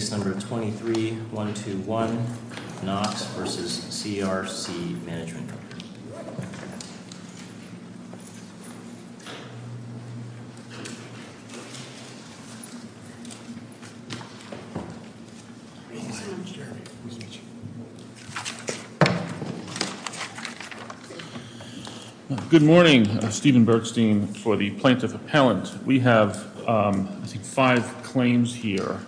Case number 23-121, Knox v. CRC Management Co., LLC Good morning. Stephen Bergstein for the Plaintiff Appellant. We have five claims here,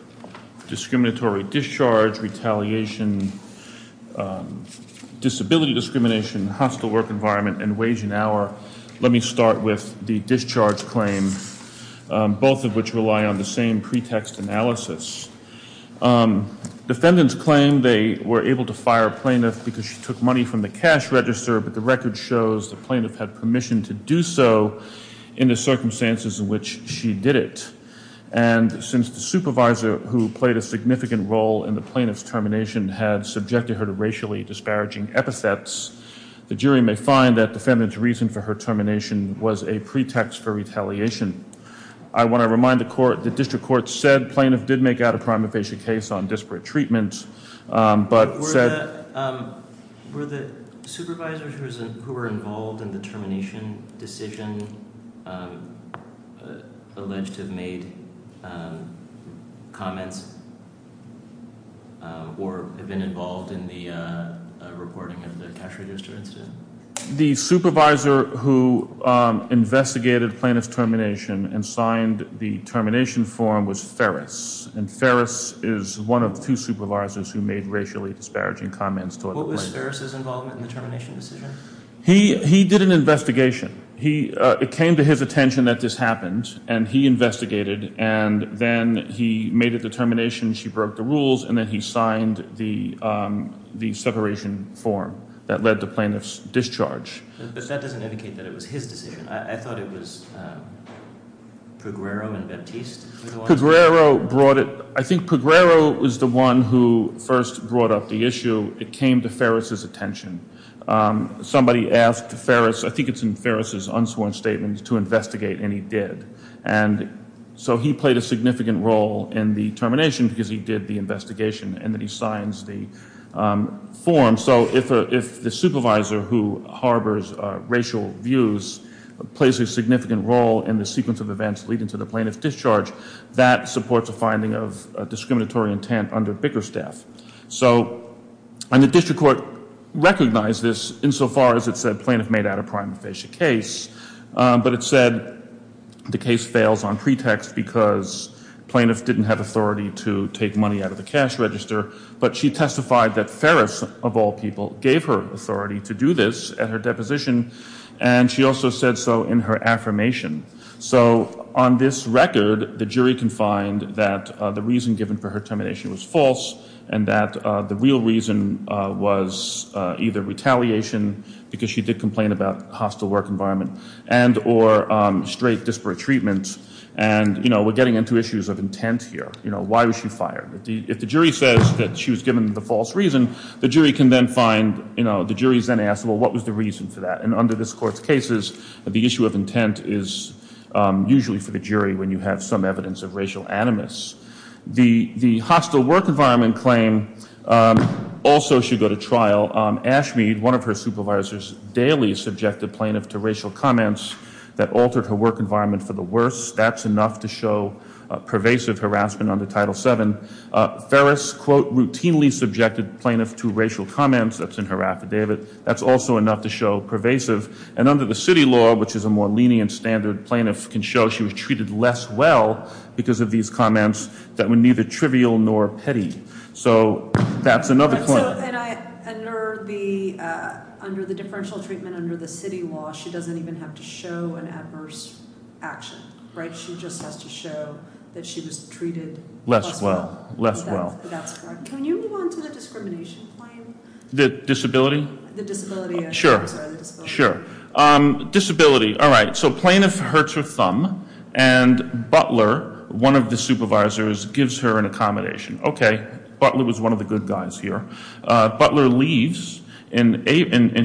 discriminatory discharge, retaliation, disability discrimination, hostile work environment, and wage and hour. Let me start with the discharge claim, both of which rely on the same pretext analysis. Defendants claim they were able to fire a plaintiff because she took money from the cash register, but the record shows the plaintiff had permission to do so in the circumstances in which she did it. And since the supervisor who played a significant role in the plaintiff's termination had subjected her to racially disparaging epithets, the jury may find that defendant's reason for her termination was a pretext for retaliation. I want to remind the court, the district court said plaintiff did make out a prima facie case on disparate treatment, but said Were the supervisors who were involved in the termination decision alleged to have made comments or have been involved in the reporting of the cash register incident? The supervisor who investigated plaintiff's termination and signed the termination form was Ferris, and Ferris is one of two supervisors who made racially disparaging comments toward the plaintiff. What was Ferris' involvement in the termination decision? He did an investigation. It came to his attention that this happened, and he investigated, and then he made a determination, she broke the rules, and then he signed the separation form that led to plaintiff's discharge. But that doesn't indicate that it was his decision. I thought it was Pegrero and Baptiste. I think Pegrero was the one who first brought up the issue. It came to Ferris' attention. Somebody asked Ferris, I think it's in Ferris' unsworn statement, to investigate, and he did. And so he played a significant role in the termination because he did the investigation, and then he signs the form. So if the supervisor who harbors racial views plays a significant role in the sequence of events leading to the plaintiff's discharge, that supports a finding of discriminatory intent under Bickerstaff. And the district court recognized this insofar as it said plaintiff made out a prima facie case, but it said the case fails on pretext because plaintiff didn't have authority to take money out of the cash register. But she testified that Ferris, of all people, gave her authority to do this at her deposition. And she also said so in her affirmation. So on this record, the jury can find that the reason given for her termination was false and that the real reason was either retaliation, because she did complain about hostile work environment, and or straight disparate treatment. And, you know, we're getting into issues of intent here. You know, why was she fired? If the jury says that she was given the false reason, the jury can then find, you know, the jury's then asked, well, what was the reason for that? And under this court's cases, the issue of intent is usually for the jury when you have some evidence of racial animus. The hostile work environment claim also should go to trial. Ashmead, one of her supervisors, daily subjected plaintiff to racial comments that altered her work environment for the worse. That's enough to show pervasive harassment under Title VII. Ferris, quote, routinely subjected plaintiff to racial comments. That's in her affidavit. That's also enough to show pervasive. And under the city law, which is a more lenient standard, plaintiff can show she was treated less well because of these comments that were neither trivial nor petty. So that's another point. So under the differential treatment under the city law, she doesn't even have to show an adverse action, right? She just has to show that she was treated less well. Less well. That's correct. Can you move on to the discrimination claim? The disability? The disability, I'm sorry. Sure. Sure. Disability. All right. So plaintiff hurts her thumb, and Butler, one of the supervisors, gives her an accommodation. Okay. Butler was one of the good guys here. Butler leaves in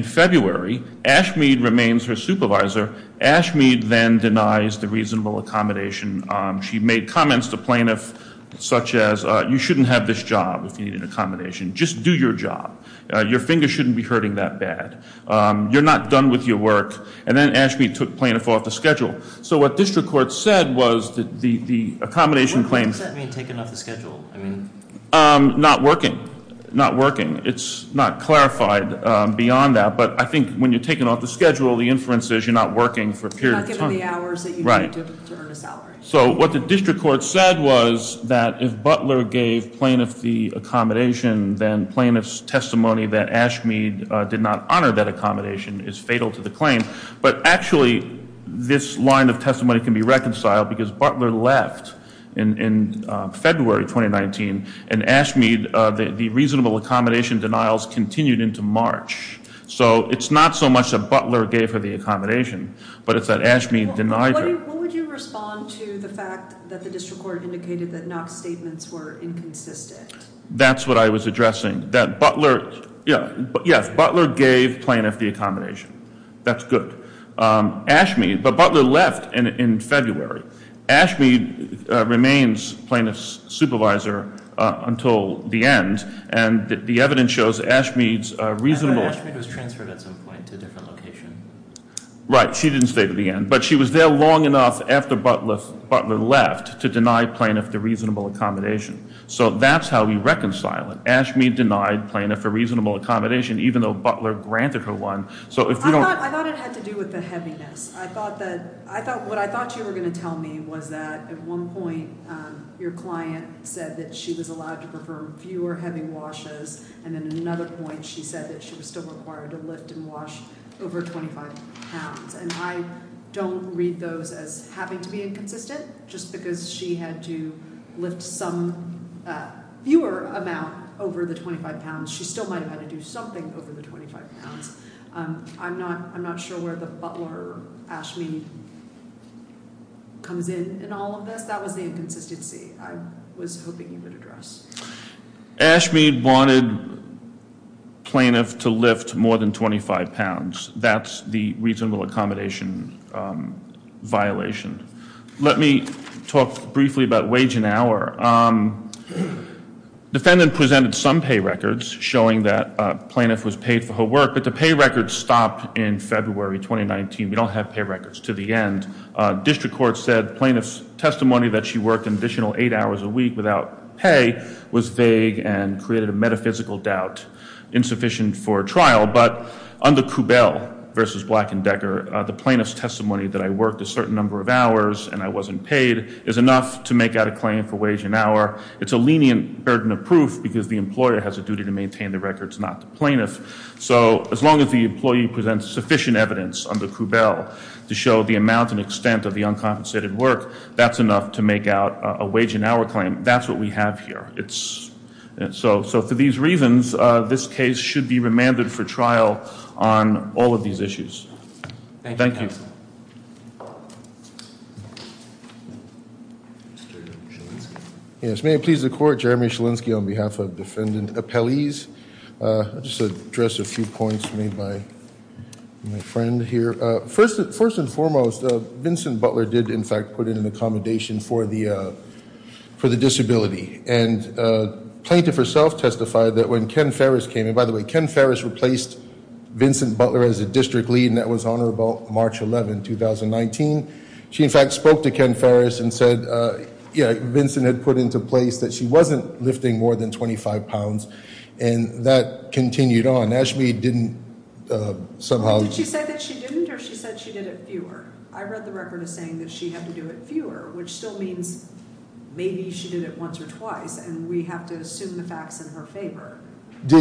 February. Ashmead remains her supervisor. Ashmead then denies the reasonable accommodation. She made comments to plaintiff such as, you shouldn't have this job if you need an accommodation. Just do your job. Your finger shouldn't be hurting that bad. You're not done with your work. And then Ashmead took plaintiff off the schedule. So what district court said was that the accommodation claims – Not working. Not working. It's not clarified beyond that, but I think when you're taken off the schedule, the inference is you're not working for a period of time. You're not given the hours that you need to earn a salary. So what the district court said was that if Butler gave plaintiff the accommodation, then plaintiff's testimony that Ashmead did not honor that accommodation is fatal to the claim. But actually, this line of testimony can be reconciled because Butler left in February 2019, and Ashmead, the reasonable accommodation denials continued into March. So it's not so much that Butler gave her the accommodation, but it's that Ashmead denied her. What would you respond to the fact that the district court indicated that Knox's statements were inconsistent? That's what I was addressing. Yes, Butler gave plaintiff the accommodation. That's good. Ashmead – but Butler left in February. Ashmead remains plaintiff's supervisor until the end, and the evidence shows Ashmead's reasonable – But Ashmead was transferred at some point to a different location. Right. She didn't stay to the end. But she was there long enough after Butler left to deny plaintiff the reasonable accommodation. So that's how we reconcile it. Ashmead denied plaintiff a reasonable accommodation even though Butler granted her one. So if you don't – I thought it had to do with the heaviness. I thought that – what I thought you were going to tell me was that at one point, your client said that she was allowed to perform fewer heavy washes, and then at another point she said that she was still required to lift and wash over 25 pounds. And I don't read those as having to be inconsistent. Just because she had to lift some fewer amount over the 25 pounds, she still might have had to do something over the 25 pounds. I'm not sure where the Butler-Ashmead comes in in all of this. That was the inconsistency I was hoping you would address. Ashmead wanted plaintiff to lift more than 25 pounds. That's the reasonable accommodation violation. Let me talk briefly about wage and hour. Defendant presented some pay records showing that plaintiff was paid for her work, but the pay records stopped in February 2019. We don't have pay records to the end. District Court said plaintiff's testimony that she worked an additional eight hours a week without pay was vague and created a metaphysical doubt insufficient for trial. But under Kubell v. Black and Decker, the plaintiff's testimony that I worked a certain number of hours and I wasn't paid is enough to make out a claim for wage and hour. It's a lenient burden of proof because the employer has a duty to maintain the records, not the plaintiff. So as long as the employee presents sufficient evidence under Kubell to show the amount and extent of the uncompensated work, that's enough to make out a wage and hour claim. That's what we have here. So for these reasons, this case should be remanded for trial on all of these issues. Thank you. Yes, may it please the Court. Jeremy Shalinski on behalf of Defendant Appellees. I'll just address a few points made by my friend here. First and foremost, Vincent Butler did, in fact, put in an accommodation for the disability. And plaintiff herself testified that when Ken Ferris came, Vincent Butler as a district lead, and that was on or about March 11, 2019. She, in fact, spoke to Ken Ferris and said Vincent had put into place that she wasn't lifting more than 25 pounds. And that continued on. Ashby didn't somehow- Did she say that she didn't or she said she did it fewer? I read the record as saying that she had to do it fewer, which still means maybe she did it once or twice. And we have to assume the facts in her favor.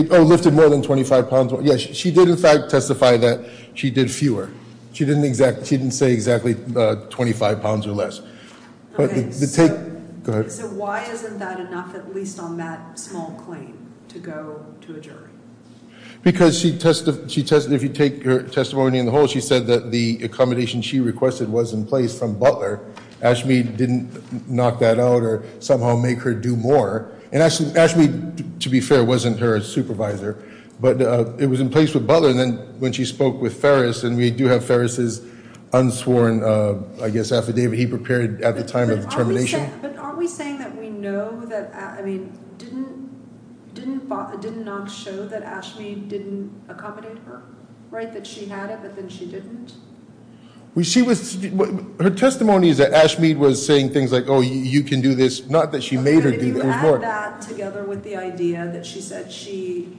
Oh, lifted more than 25 pounds. Yes, she did, in fact, testify that she did fewer. She didn't say exactly 25 pounds or less. So why isn't that enough, at least on that small claim, to go to a jury? Because if you take her testimony in the whole, she said that the accommodation she requested was in place from Butler. Ashby didn't knock that out or somehow make her do more. And Ashby, to be fair, wasn't her supervisor, but it was in place with Butler. And then when she spoke with Ferris, and we do have Ferris's unsworn, I guess, affidavit he prepared at the time of termination. But aren't we saying that we know that- I mean, didn't Knox show that Ashby didn't accommodate her, right, that she had it, but then she didn't? Her testimony is that Ashby was saying things like, oh, you can do this. Not that she made her do more. But if you add that together with the idea that she said she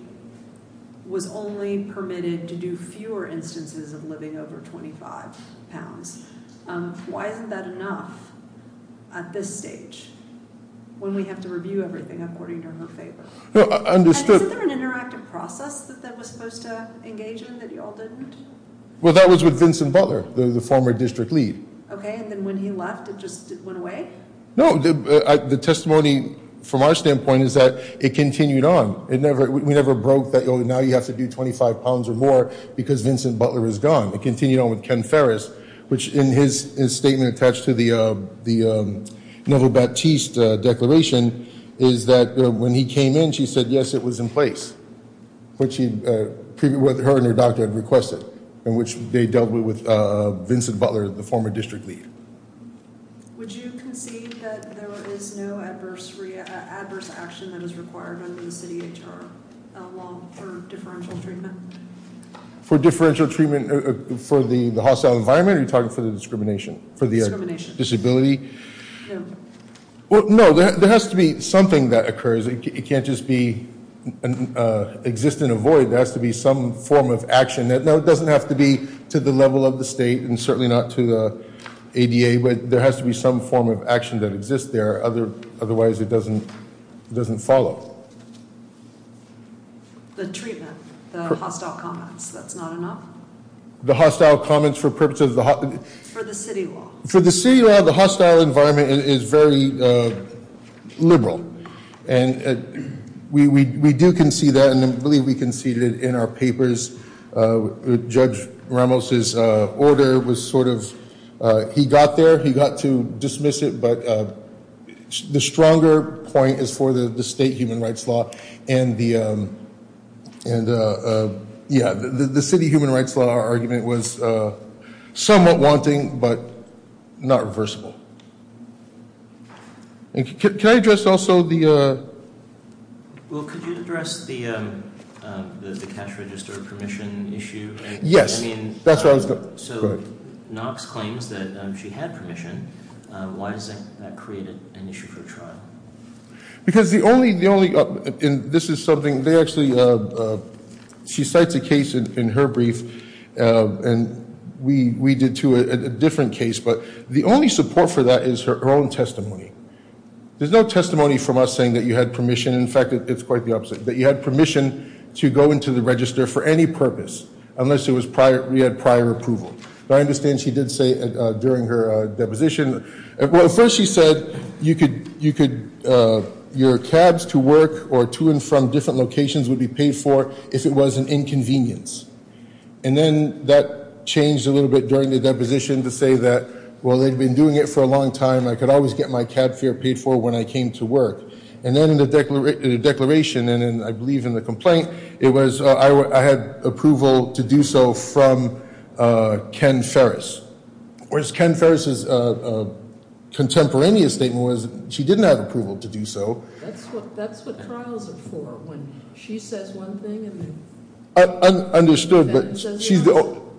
was only permitted to do fewer instances of living over 25 pounds, why isn't that enough at this stage when we have to review everything according to her favor? No, understood. And isn't there an interactive process that that was supposed to engage in that you all didn't? Well, that was with Vincent Butler, the former district lead. Okay, and then when he left, it just went away? No, the testimony from our standpoint is that it continued on. We never broke that, oh, now you have to do 25 pounds or more because Vincent Butler is gone. It continued on with Ken Ferris, which in his statement attached to the Neville Baptiste declaration is that when he came in, she said, yes, it was in place. Her and her doctor had requested, in which they dealt with Vincent Butler, the former district lead. Would you concede that there is no adverse action that is required under the city HR law for differential treatment? For differential treatment for the hostile environment? Are you talking for the discrimination? Discrimination. Disability? Well, no, there has to be something that occurs. It can't just be exist and avoid. There has to be some form of action. Now, it doesn't have to be to the level of the state and certainly not to the ADA, but there has to be some form of action that exists there. Otherwise, it doesn't follow. The treatment, the hostile comments, that's not enough? The hostile comments for purposes of the hostile. For the city law. For the city law, the hostile environment is very liberal. And we do concede that. And I believe we conceded it in our papers. Judge Ramos's order was sort of, he got there. He got to dismiss it. But the stronger point is for the state human rights law. And, yeah, the city human rights law argument was somewhat wanting, but not reversible. Can I address also the... Well, could you address the cash register permission issue? Yes. I mean... That's what I was going to... So, Knox claims that she had permission. Why is that created an issue for trial? Because the only... And this is something... They actually... She cites a case in her brief. And we did, too, a different case. But the only support for that is her own testimony. There's no testimony from us saying that you had permission. In fact, it's quite the opposite. That you had permission to go into the register for any purpose unless you had prior approval. But I understand she did say during her deposition... Well, at first she said you could... Your cabs to work or to and from different locations would be paid for if it was an inconvenience. And then that changed a little bit during the deposition to say that... Well, they'd been doing it for a long time. I could always get my cab fare paid for when I came to work. And then in the declaration... And I believe in the complaint... It was... I had approval to do so from Ken Ferris. Whereas, Ken Ferris' contemporaneous statement was she didn't have approval to do so. That's what trials are for. When she says one thing... Understood, but she's...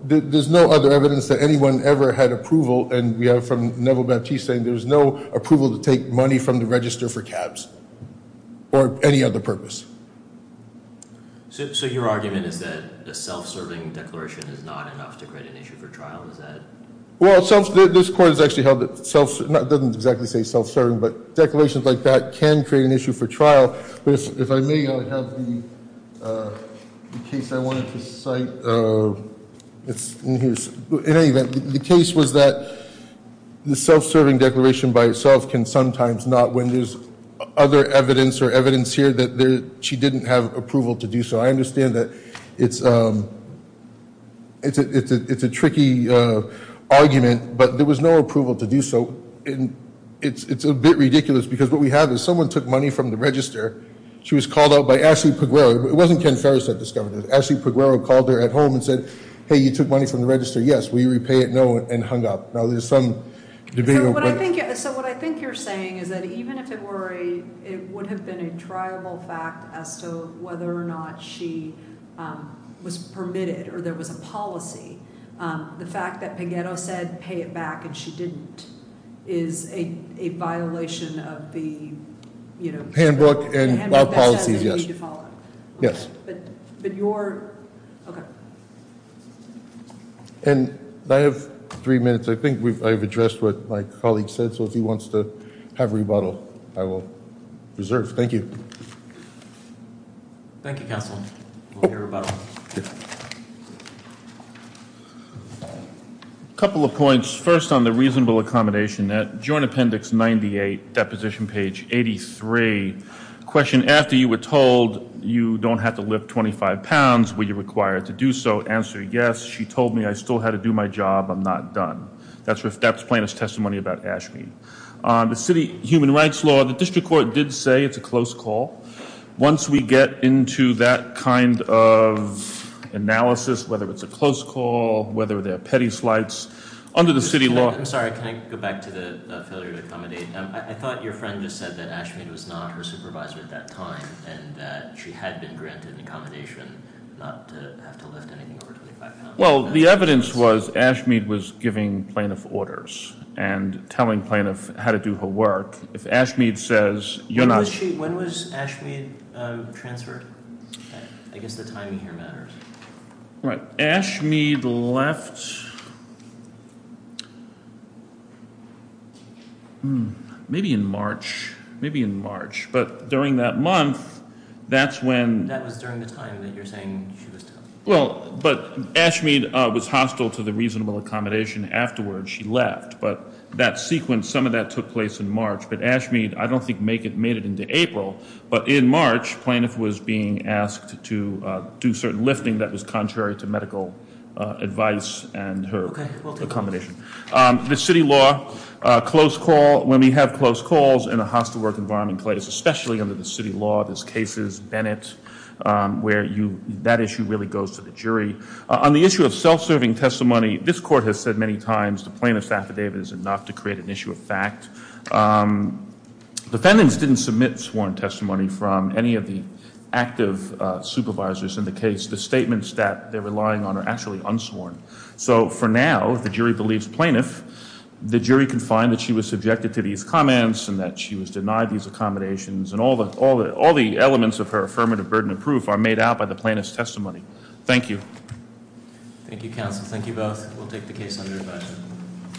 There's no other evidence that anyone ever had approval. And we have from Neville Baptiste saying there's no approval to take money from the register for cabs or any other purpose. So your argument is that a self-serving declaration is not enough to create an issue for trial? Is that... Well, this court has actually held that... It doesn't exactly say self-serving, but declarations like that can create an issue for trial. If I may, I have the case I wanted to cite. In any event, the case was that the self-serving declaration by itself can sometimes not... When there's other evidence or evidence here that she didn't have approval to do so. I understand that it's a tricky argument, but there was no approval to do so. It's a bit ridiculous because what we have is someone took money from the register. She was called out by Ashley Peguero. It wasn't Ken Ferris that discovered it. Ashley Peguero called her at home and said, hey, you took money from the register. Yes, will you repay it? No, and hung up. Now, there's some debate over whether... So what I think you're saying is that even if it were a... It would have been a triable fact as to whether or not she was permitted or there was a policy. The fact that Peguero said pay it back and she didn't is a violation of the... Handbook and law policies, yes. But your... Okay. And I have three minutes. I think I've addressed what my colleague said, so if he wants to have rebuttal, I will reserve. Thank you. Thank you, Counsel. We'll hear rebuttal. Thank you. A couple of points. First, on the reasonable accommodation, that Joint Appendix 98, Deposition Page 83. Question, after you were told you don't have to lift 25 pounds, were you required to do so? Answer, yes. She told me I still had to do my job. I'm not done. That's plaintiff's testimony about Ashley. The City Human Rights Law, the District Court did say it's a close call. Once we get into that kind of analysis, whether it's a close call, whether they're petty slights, under the city law... I'm sorry, can I go back to the failure to accommodate? I thought your friend just said that Ashmead was not her supervisor at that time and that she had been granted an accommodation not to have to lift anything over 25 pounds. Well, the evidence was Ashmead was giving plaintiff orders and telling plaintiff how to do her work. If Ashmead says you're not... When was Ashmead transferred? I guess the timing here matters. Ashmead left... Maybe in March. Maybe in March. But during that month, that's when... That was during the time that you're saying she was... Well, but Ashmead was hostile to the reasonable accommodation afterwards. She left. But that sequence, some of that took place in March. But Ashmead, I don't think, made it into April. But in March, plaintiff was being asked to do certain lifting that was contrary to medical advice and her accommodation. The city law, close call. When we have close calls in a hostile work environment, especially under the city law, there's cases, Bennett, where that issue really goes to the jury. On the issue of self-serving testimony, this court has said many times the plaintiff's affidavit is enough to create an issue of fact. Defendants didn't submit sworn testimony from any of the active supervisors in the case. The statements that they're relying on are actually unsworn. So for now, if the jury believes plaintiff, the jury can find that she was subjected to these comments and that she was denied these accommodations. And all the elements of her affirmative burden of proof are made out by the plaintiff's testimony. Thank you. Thank you, counsel. Thank you both. We'll take the case under review.